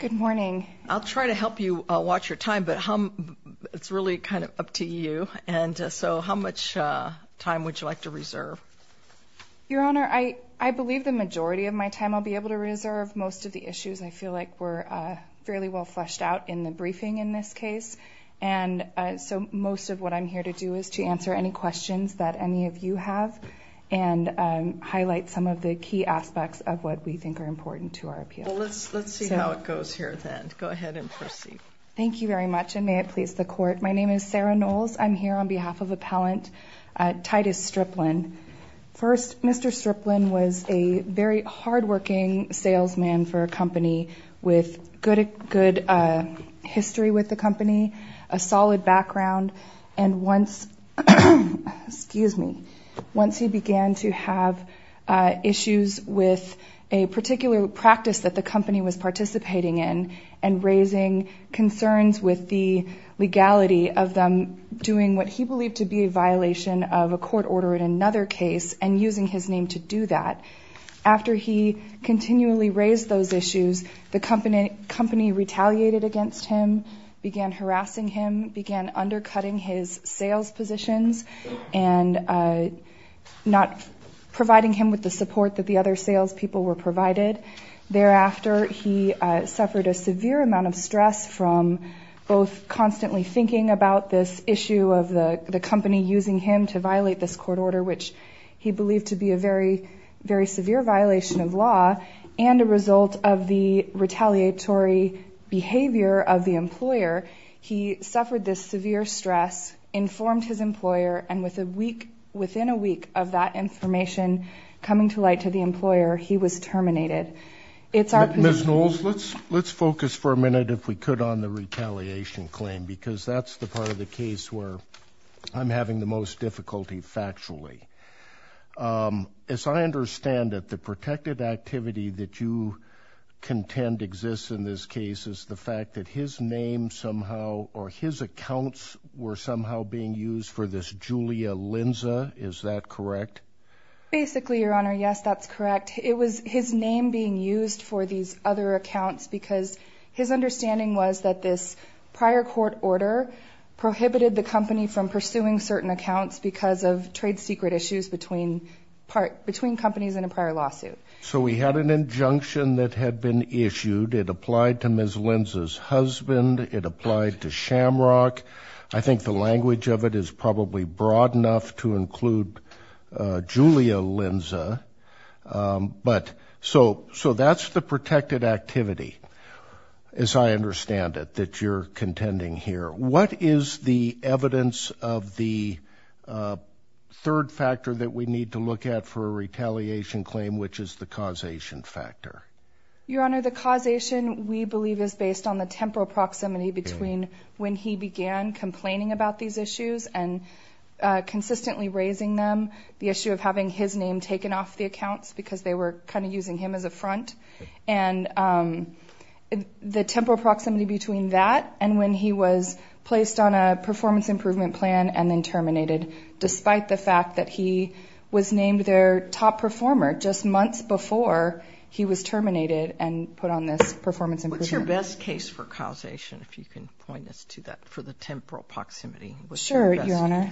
Good morning. I'll try to help you watch your time, but it's really kind of up to you. And so how much time would you like to reserve? Your Honor, I believe the majority of my time I'll be able to reserve. Most of the issues I feel like were fairly well fleshed out in the briefing in this case. And so most of what I'm here to do is to answer any questions that any of you have and highlight some of the key aspects of what we think are important to our appeal. Well, let's see how it goes here then. Go ahead and proceed. Thank you very much, and may it please the Court. My name is Sarah Knowles. I'm here on behalf of Appellant Titus Striplin. First, Mr. Striplin was a very hardworking salesman for a company with good history with the company, a solid background, and once he began to have issues with a particular practice that the company was participating in and raising concerns with the legality of them doing what he believed to be a violation of a court order in another case and using his name to do that, after he continually raised those issues, the company retaliated against him, began harassing him, began undercutting his sales positions and not providing him with the support that the other salespeople were provided. Thereafter, he suffered a severe amount of stress from both constantly thinking about this issue of the company using him to violate this court order, which he believed to be a very, very severe violation of law, and a result of the retaliatory behavior of the employer. He suffered this severe stress, informed his employer, and within a week of that information coming to light to the employer, he was terminated. Ms. Knowles, let's focus for a minute, if we could, on the retaliation claim, because that's the part of the case where I'm having the most difficulty factually. As I understand it, the protected activity that you contend exists in this case is the fact that his name somehow or his accounts were somehow being used for this Julia Linza. Is that correct? Basically, Your Honor, yes, that's correct. It was his name being used for these other accounts because his understanding was that this prior court order prohibited the company from pursuing certain accounts because of trade secret issues between companies in a prior lawsuit. So we had an injunction that had been issued. It applied to Ms. Linza's husband. It applied to Shamrock. I think the language of it is probably broad enough to include Julia Linza. But so that's the protected activity, as I understand it, that you're contending here. What is the evidence of the third factor that we need to look at for a retaliation claim, which is the causation factor? Your Honor, the causation, we believe, is based on the temporal proximity between when he began complaining about these issues and consistently raising them, the issue of having his name taken off the accounts because they were kind of using him as a front, and the temporal proximity between that and when he was placed on a performance improvement plan and then terminated despite the fact that he was named their top performer just months before he was terminated and put on this performance improvement plan. What's your best case for causation, if you can point us to that, for the temporal proximity? Sure, Your Honor.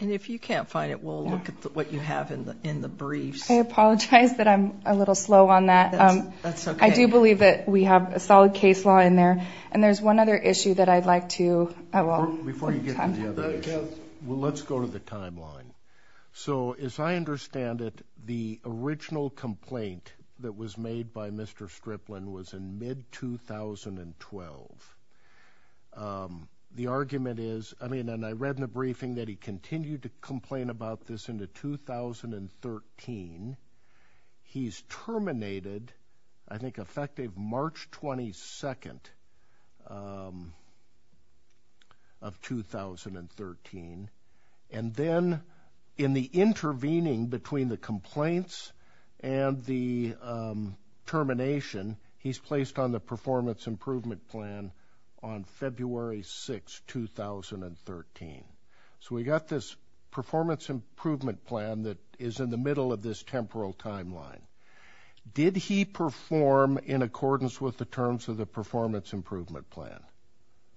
And if you can't find it, we'll look at what you have in the briefs. I apologize that I'm a little slow on that. That's okay. I do believe that we have a solid case law in there, and there's one other issue that I'd like to – Before you get to the other issue, let's go to the timeline. So, as I understand it, the original complaint that was made by Mr. Stripline was in mid-2012. The argument is – I mean, and I read in the briefing that he continued to complain about this into 2013. He's terminated, I think effective March 22nd of 2013. And then, in the intervening between the complaints and the termination, he's placed on the performance improvement plan on February 6th, 2013. So we've got this performance improvement plan that is in the middle of this temporal timeline. Did he perform in accordance with the terms of the performance improvement plan?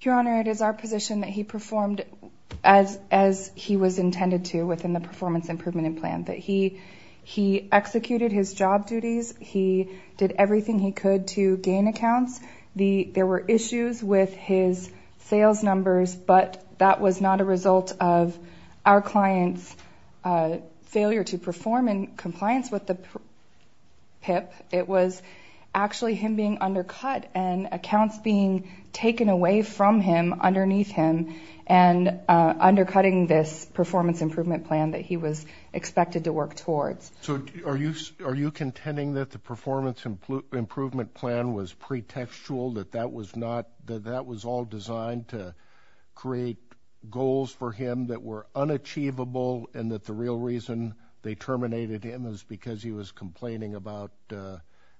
Your Honor, it is our position that he performed as he was intended to within the performance improvement plan, that he executed his job duties, he did everything he could to gain accounts. There were issues with his sales numbers, but that was not a result of our client's failure to perform in compliance with the PIP. It was actually him being undercut and accounts being taken away from him, underneath him, and undercutting this performance improvement plan that he was expected to work towards. So are you contending that the performance improvement plan was pretextual, that that was not – that that was all designed to create goals for him that were unachievable and that the real reason they terminated him was because he was complaining about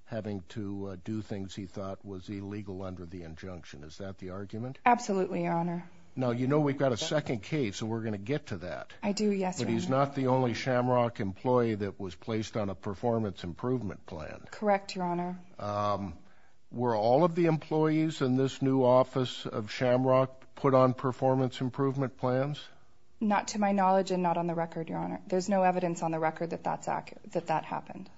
having to do things he thought was illegal under the injunction? Is that the argument? Absolutely, Your Honor. Now, you know we've got a second case, and we're going to get to that. I do, yes, Your Honor. But he's not the only Shamrock employee that was placed on a performance improvement plan. Correct, Your Honor. Were all of the employees in this new office of Shamrock put on performance improvement plans? Not to my knowledge and not on the record, Your Honor. There's no evidence on the record that that happened.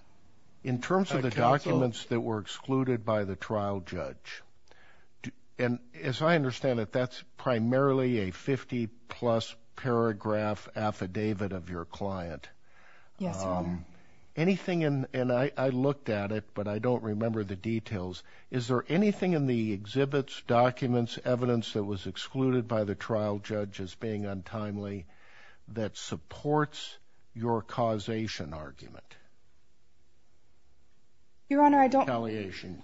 In terms of the documents that were excluded by the trial judge, and as I understand it, that's primarily a 50-plus paragraph affidavit of your client. Yes, Your Honor. Anything in – and I looked at it, but I don't remember the details. Is there anything in the exhibits, documents, evidence that was excluded by the trial judge as being untimely that supports your causation argument? Your Honor, I don't – Reconciliation.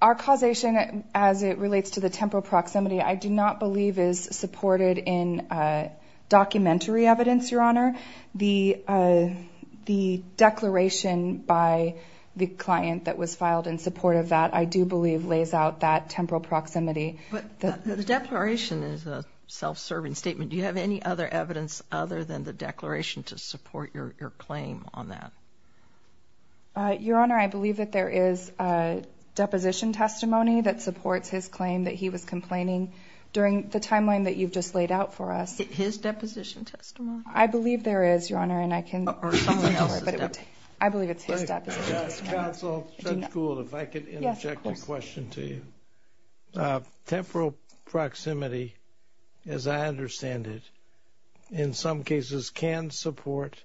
Our causation, as it relates to the temporal proximity, I do not believe is supported in documentary evidence, Your Honor. The declaration by the client that was filed in support of that I do believe lays out that temporal proximity. But the declaration is a self-serving statement. Do you have any other evidence other than the declaration to support your claim on that? Your Honor, I believe that there is a deposition testimony that supports his claim that he was complaining during the timeline that you've just laid out for us. His deposition testimony? I believe there is, Your Honor, and I can – Or someone else's deposition. I believe it's his deposition. Counsel, Judge Gould, if I could interject a question to you. Yes, of course. Temporal proximity, as I understand it, in some cases can support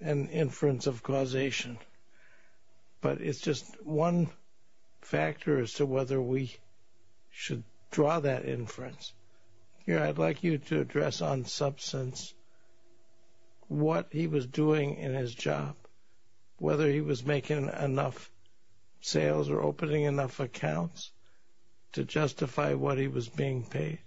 an inference of causation. But it's just one factor as to whether we should draw that inference. Here, I'd like you to address on substance what he was doing in his job, whether he was making enough sales or opening enough accounts to justify what he was being paid.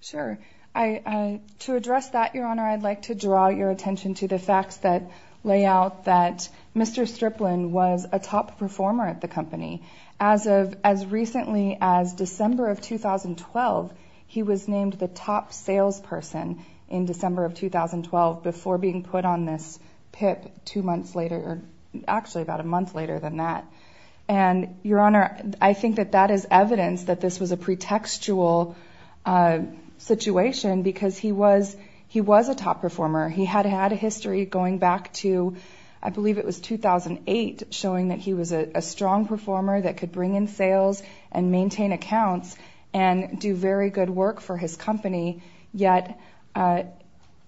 Sure. To address that, Your Honor, I'd like to draw your attention to the facts that lay out that Mr. Striplin was a top performer at the company. As recently as December of 2012, he was named the top salesperson in December of 2012 before being put on this PIP two months later – actually, about a month later than that. And, Your Honor, I think that that is evidence that this was a pretextual situation because he was a top performer. He had had a history going back to – I believe it was 2008 – showing that he was a strong performer that could bring in sales and maintain accounts and do very good work for his company. Yet,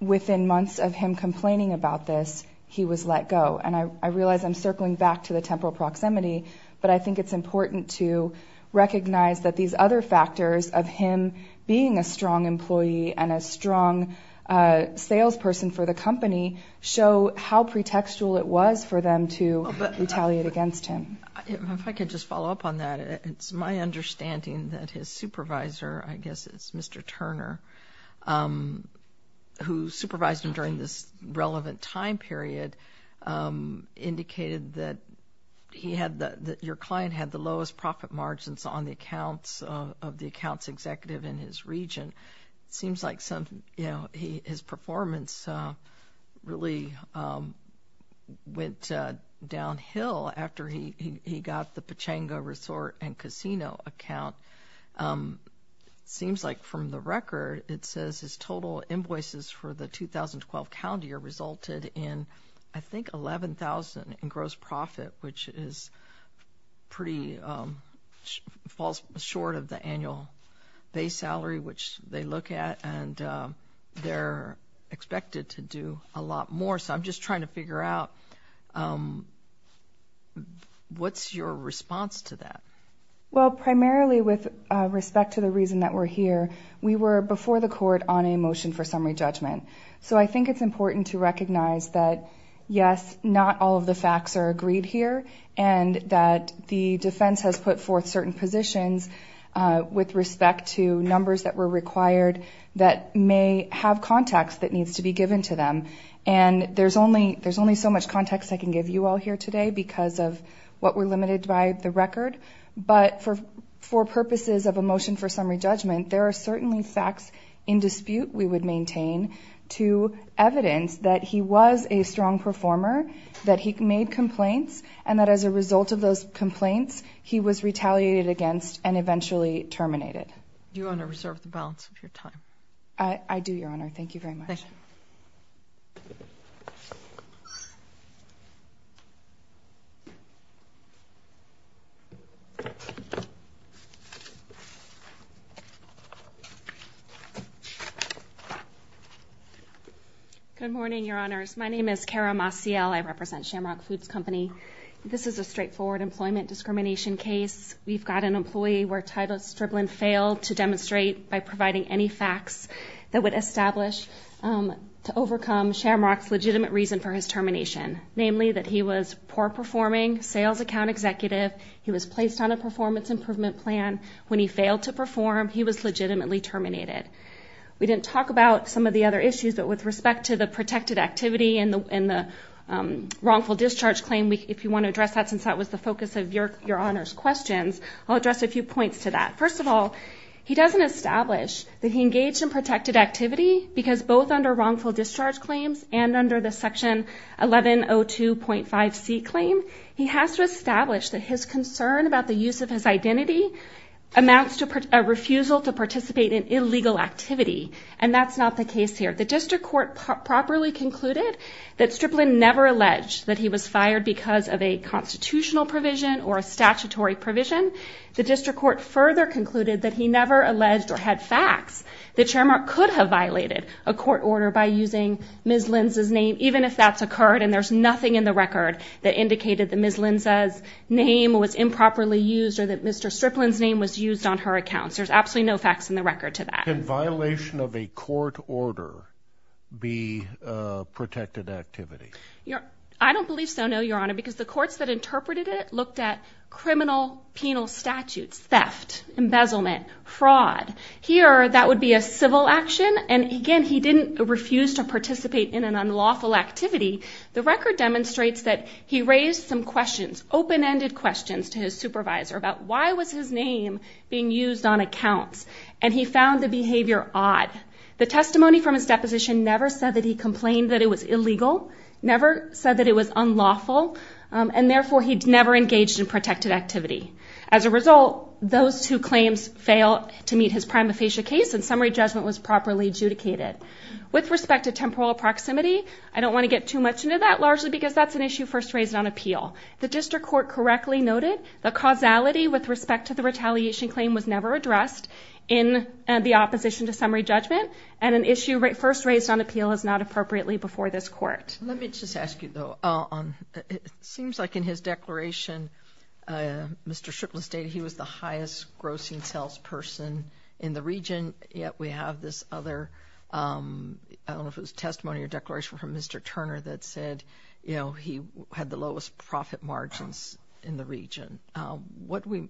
within months of him complaining about this, he was let go. And I realize I'm circling back to the temporal proximity, but I think it's important to recognize that these other factors of him being a strong employee and a strong salesperson for the company show how pretextual it was for them to retaliate against him. If I could just follow up on that, it's my understanding that his supervisor – I guess it's Mr. Turner – who supervised him during this relevant time period indicated that your client had the lowest profit margins on the accounts of the accounts executive in his region. It seems like some – you know, his performance really went downhill after he got the Pechanga Resort and Casino account. It seems like from the record, it says his total invoices for the 2012 calendar year resulted in, I think, $11,000 in gross profit, which is pretty – falls short of the annual base salary, which they look at, and they're expected to do a lot more. So I'm just trying to figure out, what's your response to that? Well, primarily with respect to the reason that we're here, we were before the court on a motion for summary judgment. So I think it's important to recognize that, yes, not all of the facts are agreed here, and that the defense has put forth certain positions with respect to numbers that were required that may have context that needs to be given to them. And there's only so much context I can give you all here today because of what we're limited by the record, but for purposes of a motion for summary judgment, there are certainly facts in dispute we would maintain to evidence that he was a strong performer, that he made complaints, and that as a result of those complaints, he was retaliated against and eventually terminated. Do you want to reserve the balance of your time? I do, Your Honor. Thank you very much. Thank you. Good morning, Your Honors. My name is Kara Massiel. I represent Shamrock Foods Company. This is a straightforward employment discrimination case. We've got an employee where Titleist Stripling failed to demonstrate by providing any facts that would establish to overcome Shamrock's legitimate reason for his termination, namely that he was a poor-performing sales account executive. He was placed on a performance improvement plan. When he failed to perform, he was legitimately terminated. We didn't talk about some of the other issues, but with respect to the protected activity and the wrongful discharge claim, if you want to address that since that was the focus of Your Honor's questions, I'll address a few points to that. First of all, he doesn't establish that he engaged in protected activity because both under wrongful discharge claims and under the Section 1102.5c claim, he has to establish that his concern about the use of his identity amounts to a refusal to participate in illegal activity, and that's not the case here. The district court properly concluded that Stripling never alleged that he was fired because of a constitutional provision or a statutory provision. The district court further concluded that he never alleged or had facts that Shamrock could have violated a court order by using Ms. Linz's name, even if that's occurred and there's nothing in the record that indicated that Ms. Linz's name was improperly used or that Mr. Stripling's name was used on her account. There's absolutely no facts in the record to that. Can violation of a court order be protected activity? I don't believe so, no, Your Honor, because the courts that interpreted it looked at criminal penal statutes, theft, embezzlement, fraud. Here, that would be a civil action, and again, he didn't refuse to participate in an unlawful activity. The record demonstrates that he raised some questions, open-ended questions to his supervisor about why was his name being used on accounts, and he found the behavior odd. The testimony from his deposition never said that he complained that it was illegal, never said that it was unlawful, and therefore he never engaged in protected activity. As a result, those two claims fail to meet his prima facie case, and summary judgment was properly adjudicated. With respect to temporal proximity, I don't want to get too much into that, largely because that's an issue first raised on appeal. The district court correctly noted the causality with respect to the retaliation claim was never addressed in the opposition to summary judgment, and an issue first raised on appeal is not appropriately before this court. Let me just ask you, though, it seems like in his declaration, Mr. Strickland stated he was the highest grossing salesperson in the region, yet we have this other, I don't know if it was testimony or declaration from Mr. Turner that said, you know, he had the lowest profit margins in the region. What do we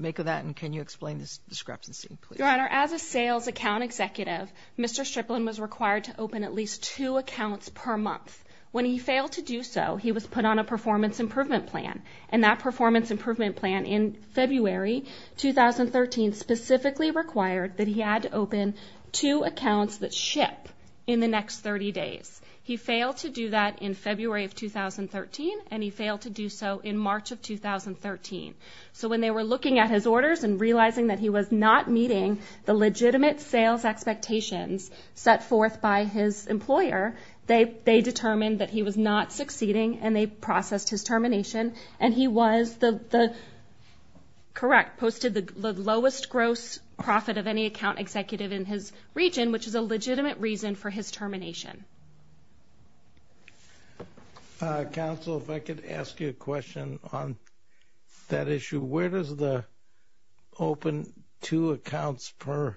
make of that, and can you explain this discrepancy, please? Your Honor, as a sales account executive, Mr. Strickland was required to open at least two accounts per month. When he failed to do so, he was put on a performance improvement plan, and that performance improvement plan in February 2013 specifically required that he had to open two accounts that ship in the next 30 days. He failed to do that in February of 2013, and he failed to do so in March of 2013. So when they were looking at his orders and realizing that he was not meeting the legitimate sales expectations set forth by his employer, they determined that he was not succeeding, and they processed his termination, and he was the correct, posted the lowest gross profit of any account executive in his region, which is a legitimate reason for his termination. Counsel, if I could ask you a question on that issue. Where does the open two accounts per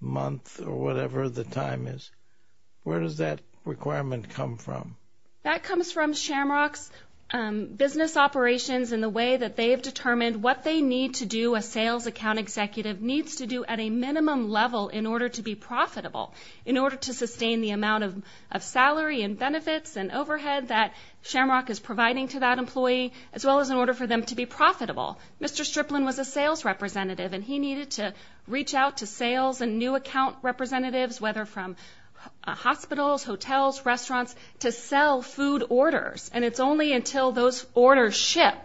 month or whatever the time is, where does that requirement come from? That comes from Shamrock's business operations and the way that they have determined what they need to do, a sales account executive needs to do at a minimum level in order to be profitable, in order to sustain the amount of salary and benefits and overhead that Shamrock is providing to that employee, as well as in order for them to be profitable. Mr. Striplin was a sales representative, and he needed to reach out to sales and new account representatives, whether from hospitals, hotels, restaurants, to sell food orders, and it's only until those orders ship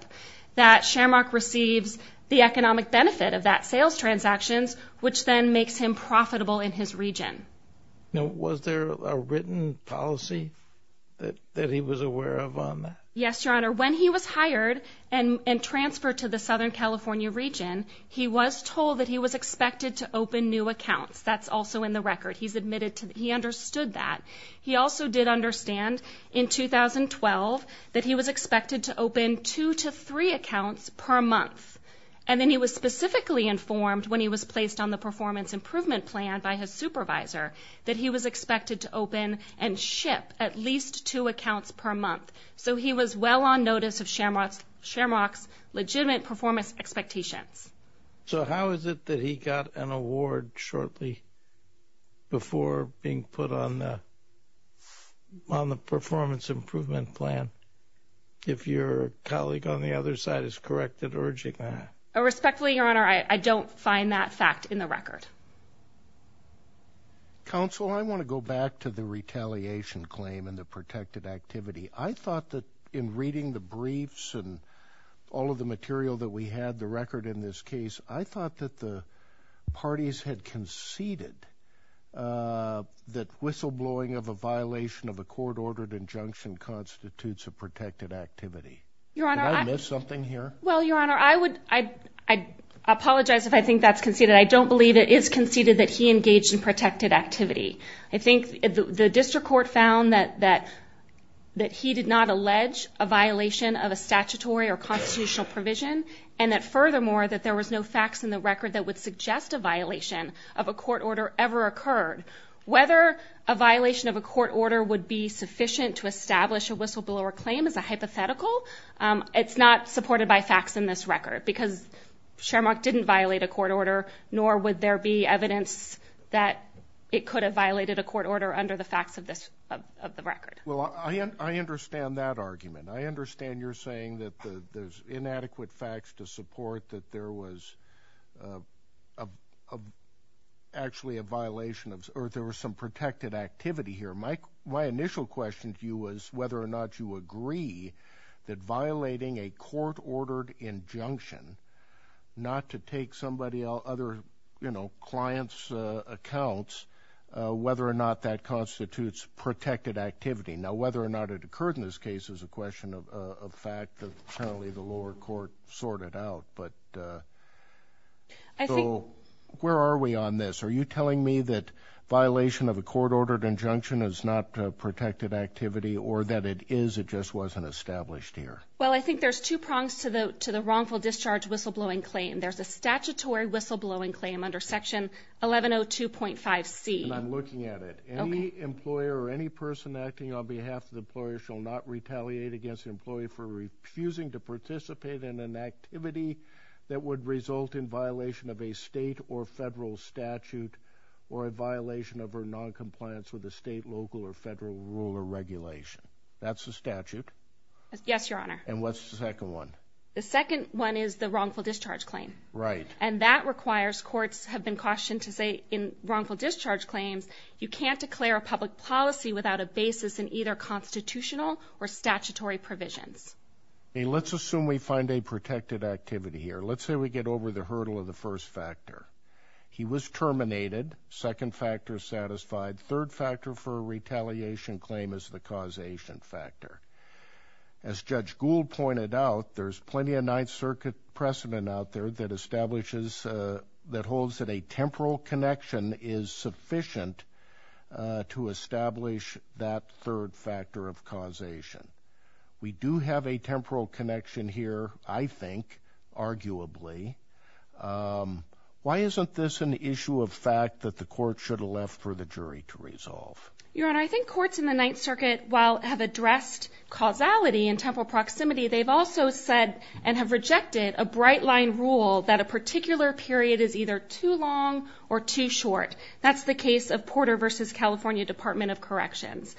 that Shamrock receives the economic benefit of that sales transactions, which then makes him profitable in his region. Now, was there a written policy that he was aware of on that? Yes, Your Honor. When he was hired and transferred to the Southern California region, he was told that he was expected to open new accounts. That's also in the record. He understood that. He also did understand in 2012 that he was expected to open two to three accounts per month, and then he was specifically informed when he was placed on the performance improvement plan by his supervisor that he was expected to open and ship at least two accounts per month. So he was well on notice of Shamrock's legitimate performance expectations. So how is it that he got an award shortly before being put on the performance improvement plan? If your colleague on the other side is correct in urging that. Respectfully, Your Honor, I don't find that fact in the record. Counsel, I want to go back to the retaliation claim and the protected activity. I thought that in reading the briefs and all of the material that we had, the record in this case, I thought that the parties had conceded that whistleblowing of a violation of a court-ordered injunction constitutes a protected activity. Did I miss something here? Well, Your Honor, I apologize if I think that's conceded. I don't believe it is conceded that he engaged in protected activity. I think the district court found that he did not allege a violation of a statutory or constitutional provision and that, furthermore, that there was no facts in the record that would suggest a violation of a court order ever occurred. Whether a violation of a court order would be sufficient to establish a whistleblower claim is a hypothetical. It's not supported by facts in this record because Shermock didn't violate a court order, nor would there be evidence that it could have violated a court order under the facts of the record. Well, I understand that argument. I understand you're saying that there's inadequate facts to support that there was actually a violation of or there was some protected activity here. My initial question to you was whether or not you agree that violating a court-ordered injunction, not to take somebody else, other clients' accounts, whether or not that constitutes protected activity. Now, whether or not it occurred in this case is a question of fact. Apparently, the lower court sorted it out. So where are we on this? Are you telling me that violation of a court-ordered injunction is not protected activity or that it is, it just wasn't established here? Well, I think there's two prongs to the wrongful discharge whistleblowing claim. There's a statutory whistleblowing claim under Section 1102.5C. And I'm looking at it. Any employer or any person acting on behalf of the employer shall not retaliate against the employee for refusing to participate in an activity that would result in violation of a state or federal statute or a violation of her noncompliance with a state, local, or federal rule or regulation. That's the statute. Yes, Your Honor. And what's the second one? The second one is the wrongful discharge claim. Right. And that requires courts have been cautioned to say in wrongful discharge claims, you can't declare a public policy without a basis in either constitutional or statutory provisions. Let's assume we find a protected activity here. Let's say we get over the hurdle of the first factor. He was terminated. Second factor satisfied. Third factor for a retaliation claim is the causation factor. As Judge Gould pointed out, there's plenty of Ninth Circuit precedent out there that establishes that holds that a temporal connection is sufficient to establish that third factor of causation. We do have a temporal connection here, I think, arguably. Why isn't this an issue of fact that the court should have left for the jury to resolve? Your Honor, I think courts in the Ninth Circuit, while have addressed causality and temporal proximity, they've also said and have rejected a bright-line rule that a particular period is either too long or too short. That's the case of Porter v. California Department of Corrections.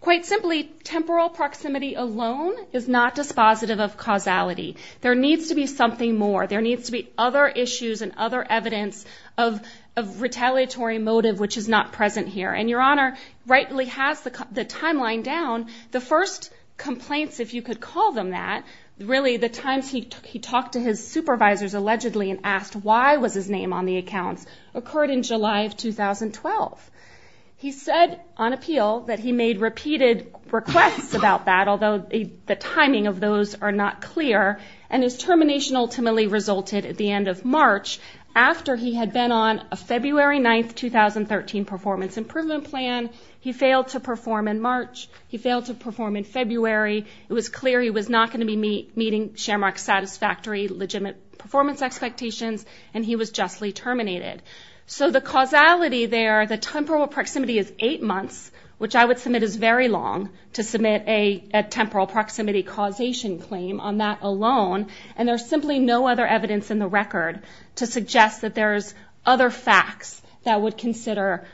Quite simply, temporal proximity alone is not dispositive of causality. There needs to be something more. There needs to be other issues and other evidence of retaliatory motive which is not present here. And Your Honor rightly has the timeline down. The first complaints, if you could call them that, really the times he talked to his supervisors allegedly and asked why was his name on the accounts, occurred in July of 2012. He said on appeal that he made repeated requests about that, although the timing of those are not clear. And his termination ultimately resulted at the end of March, after he had been on a February 9, 2013 performance improvement plan. He failed to perform in March. He failed to perform in February. It was clear he was not going to be meeting Shamrock's satisfactory legitimate performance expectations, and he was justly terminated. So the causality there, the temporal proximity is eight months, which I would submit is very long to submit a temporal proximity causation claim on that alone, and there's simply no other evidence in the record to suggest that there's other facts that would consider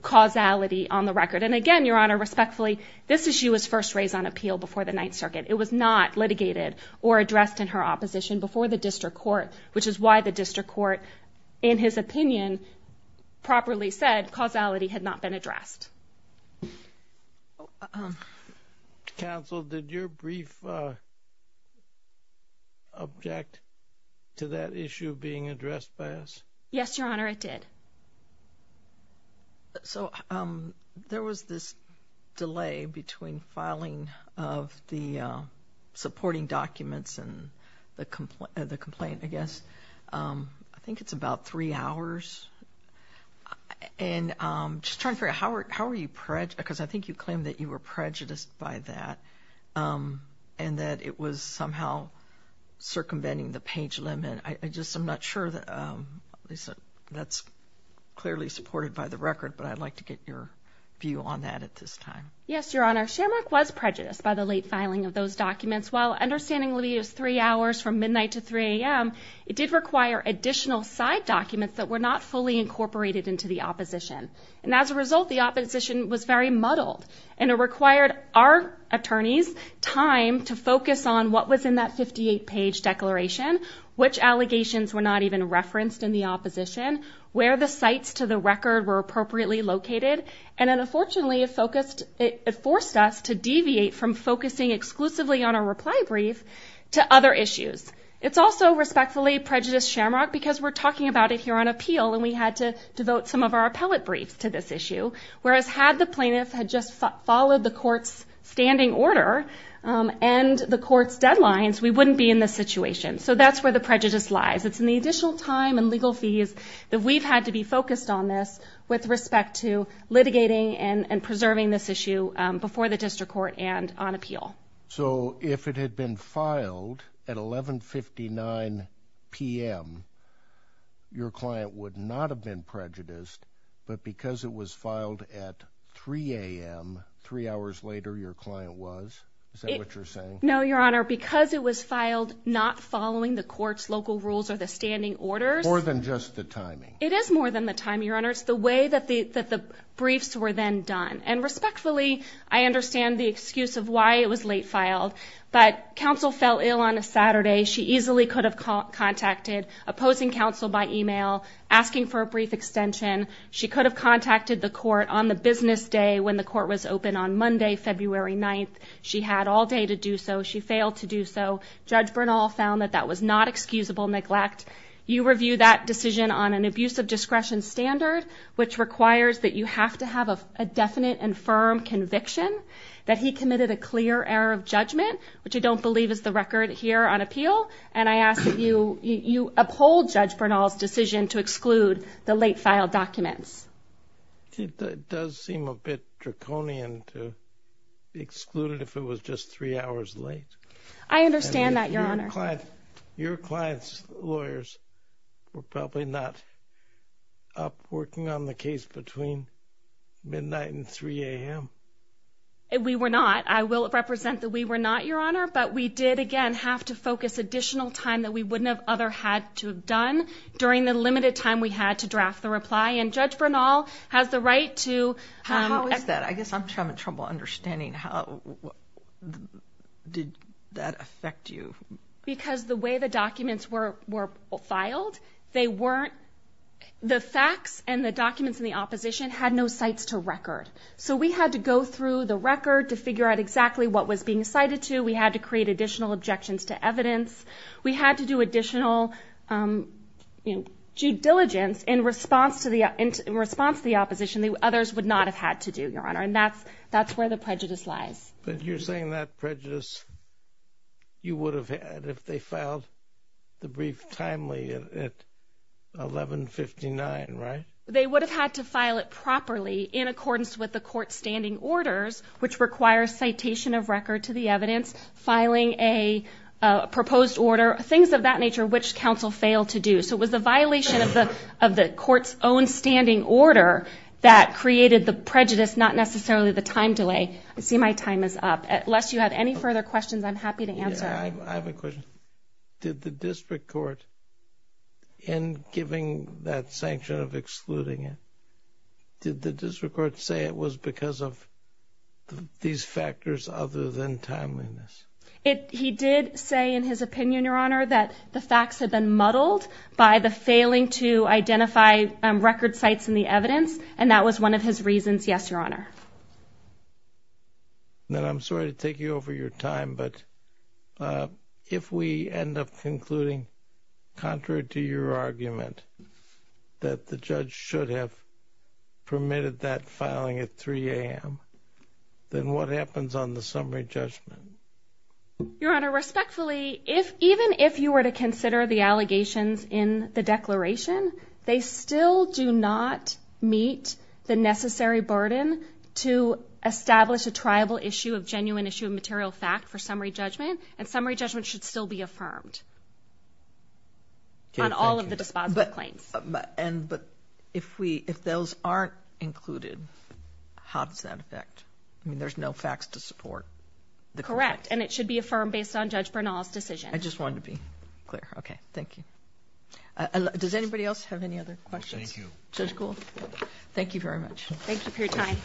causality on the record. And again, Your Honor, respectfully, this issue was first raised on appeal before the Ninth Circuit. It was not litigated or addressed in her opposition before the district court, which is why the district court, in his opinion, properly said causality had not been addressed. Counsel, did your brief object to that issue being addressed by us? Yes, Your Honor, it did. So there was this delay between filing of the supporting documents and the complaint, I guess. I think it's about three hours. And just trying to figure out, how are you prejudiced? Because I think you claimed that you were prejudiced by that and that it was somehow circumventing the page limit. I just am not sure that that's clearly supported by the record, but I'd like to get your view on that at this time. Yes, Your Honor, Shamrock was prejudiced by the late filing of those documents. While understandingly it was three hours from midnight to 3 a.m., it did require additional side documents that were not fully incorporated into the opposition. And as a result, the opposition was very muddled, and it required our attorneys time to focus on what was in that 58-page declaration, which allegations were not even referenced in the opposition, where the sites to the record were appropriately located. And unfortunately, it forced us to deviate from focusing exclusively on a reply brief to other issues. It's also respectfully prejudiced, Shamrock, because we're talking about it here on appeal, and we had to devote some of our appellate briefs to this issue, whereas had the plaintiff had just followed the court's standing order and the court's deadlines, we wouldn't be in this situation. So that's where the prejudice lies. It's in the additional time and legal fees that we've had to be focused on this with respect to litigating and preserving this issue before the district court and on appeal. So if it had been filed at 1159 p.m., your client would not have been prejudiced, but because it was filed at 3 a.m., three hours later, your client was? Is that what you're saying? No, Your Honor. Because it was filed not following the court's local rules or the standing orders. More than just the timing. It is more than the timing, Your Honor. It's the way that the briefs were then done. And respectfully, I understand the excuse of why it was late filed. But counsel fell ill on a Saturday. She easily could have contacted opposing counsel by email, asking for a brief extension. She could have contacted the court on the business day when the court was open on Monday, February 9th. She had all day to do so. She failed to do so. Judge Bernal found that that was not excusable neglect. You review that decision on an abuse of discretion standard, which requires that you have to have a definite and firm conviction that he committed a clear error of judgment, which I don't believe is the record here on appeal. And I ask that you uphold Judge Bernal's decision to exclude the late-filed documents. It does seem a bit draconian to exclude it if it was just three hours late. I understand that, Your Honor. Your client's lawyers were probably not up working on the case between midnight and 3 a.m.? We were not. I will represent that we were not, Your Honor. But we did, again, have to focus additional time that we wouldn't have other had to have done during the limited time we had to draft the reply. And Judge Bernal has the right to— How is that? I guess I'm having trouble understanding how did that affect you? Because the way the documents were filed, they weren't— the facts and the documents in the opposition had no sites to record. So we had to go through the record to figure out exactly what was being cited to. We had to create additional objections to evidence. We had to do additional due diligence in response to the opposition that others would not have had to do, Your Honor, and that's where the prejudice lies. But you're saying that prejudice you would have had if they filed the brief timely at 1159, right? They would have had to file it properly in accordance with the court's standing orders, which requires citation of record to the evidence, filing a proposed order, things of that nature which counsel failed to do. So it was the violation of the court's own standing order that created the prejudice, not necessarily the time delay. I see my time is up. Unless you have any further questions, I'm happy to answer. I have a question. Did the district court, in giving that sanction of excluding it, did the district court say it was because of these factors other than timeliness? He did say in his opinion, Your Honor, that the facts had been muddled by the failing to identify record sites in the evidence, and that was one of his reasons, yes, Your Honor. Then I'm sorry to take you over your time, but if we end up concluding contrary to your argument that the judge should have permitted that filing at 3 a.m., then what happens on the summary judgment? Your Honor, respectfully, even if you were to consider the allegations in the declaration, they still do not meet the necessary burden to establish a triable issue, a genuine issue, a material fact for summary judgment, and summary judgment should still be affirmed on all of the dispositive claims. But if those aren't included, how does that affect? I mean, there's no facts to support. Correct, and it should be affirmed based on Judge Bernal's decision. I just wanted to be clear. Okay, thank you. Does anybody else have any other questions? Thank you. Judge Gould, thank you very much. Thank you for your time.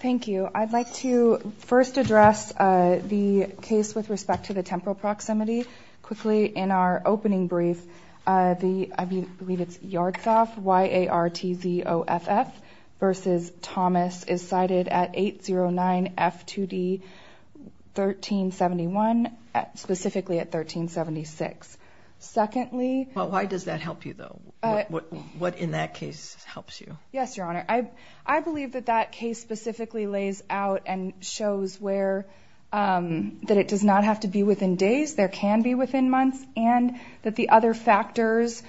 Thank you. I'd like to first address the case with respect to the temporal proximity. Quickly, in our opening brief, I believe it's Yartzoff, Y-A-R-T-Z-O-F-F, versus Thomas is cited at 809 F2D 1371, specifically at 1376. Secondly ---- Well, why does that help you, though? What in that case helps you? Yes, Your Honor. I believe that that case specifically lays out and shows that it does not have to be within days. There can be within months, and that the other factors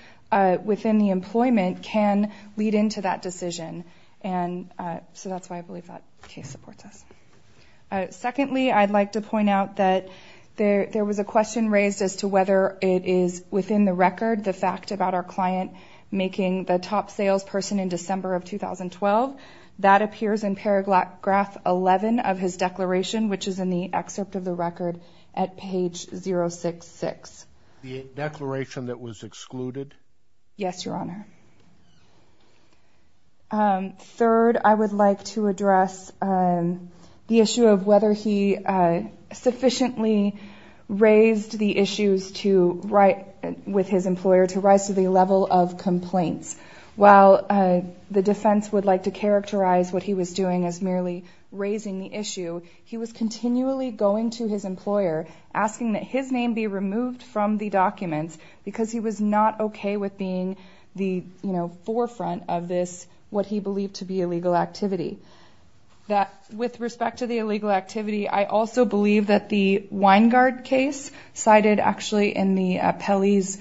within the employment can lead into that decision. So that's why I believe that case supports us. Secondly, I'd like to point out that there was a question raised as to whether it is within the record, the fact about our client making the top salesperson in December of 2012. That appears in paragraph 11 of his declaration, which is in the excerpt of the record at page 066. The declaration that was excluded? Yes, Your Honor. Third, I would like to address the issue of whether he sufficiently raised the issues with his employer to rise to the level of complaints. While the defense would like to characterize what he was doing as merely raising the issue, he was continually going to his employer, asking that his name be removed from the documents because he was not okay with being the forefront of this, what he believed to be illegal activity. With respect to the illegal activity, I also believe that the Weingart case, cited actually in the appellee's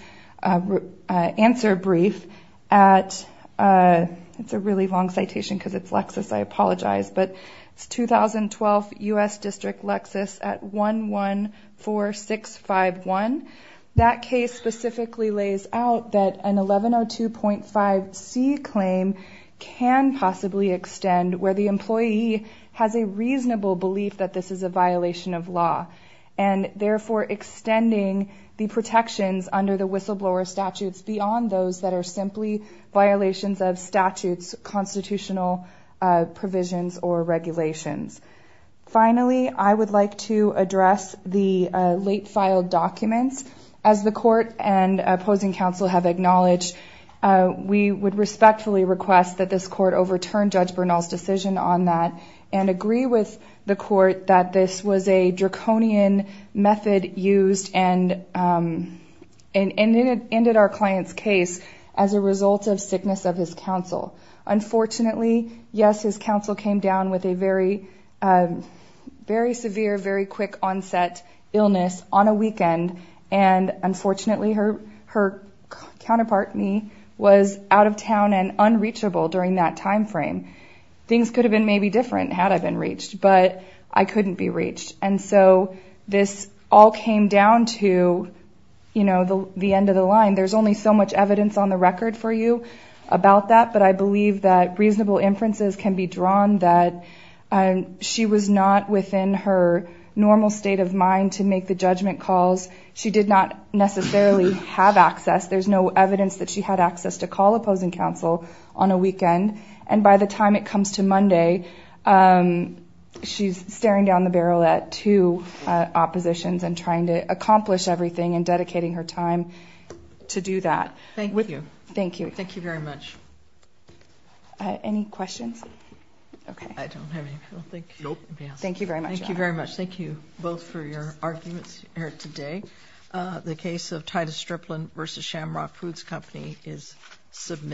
answer brief at, it's a really long citation because it's Lexis, I apologize, but it's 2012 U.S. District Lexis at 114651. That case specifically lays out that an 1102.5c claim can possibly extend where the employee has a reasonable belief that this is a violation of law, and therefore extending the protections under the whistleblower statutes beyond those that are simply violations of statutes, constitutional provisions, or regulations. Finally, I would like to address the late-filed documents. As the Court and opposing counsel have acknowledged, we would respectfully request that this Court overturn Judge Bernal's decision on that and agree with the Court that this was a draconian method used and ended our client's case as a result of sickness of his counsel. Unfortunately, yes, his counsel came down with a very severe, and unfortunately her counterpart, me, was out of town and unreachable during that time frame. Things could have been maybe different had I been reached, but I couldn't be reached. And so this all came down to the end of the line. There's only so much evidence on the record for you about that, but I believe that reasonable inferences can be drawn that she was not within her normal state of mind to make the judgment calls. She did not necessarily have access. There's no evidence that she had access to call opposing counsel on a weekend. And by the time it comes to Monday, she's staring down the barrel at two oppositions and trying to accomplish everything and dedicating her time to do that. With you. Thank you. Thank you very much. Any questions? Okay. I don't have any. Thank you. Thank you very much. Thank you both for your arguments here today. The case of Titus Stripland v. Shamrock Foods Company is submitted.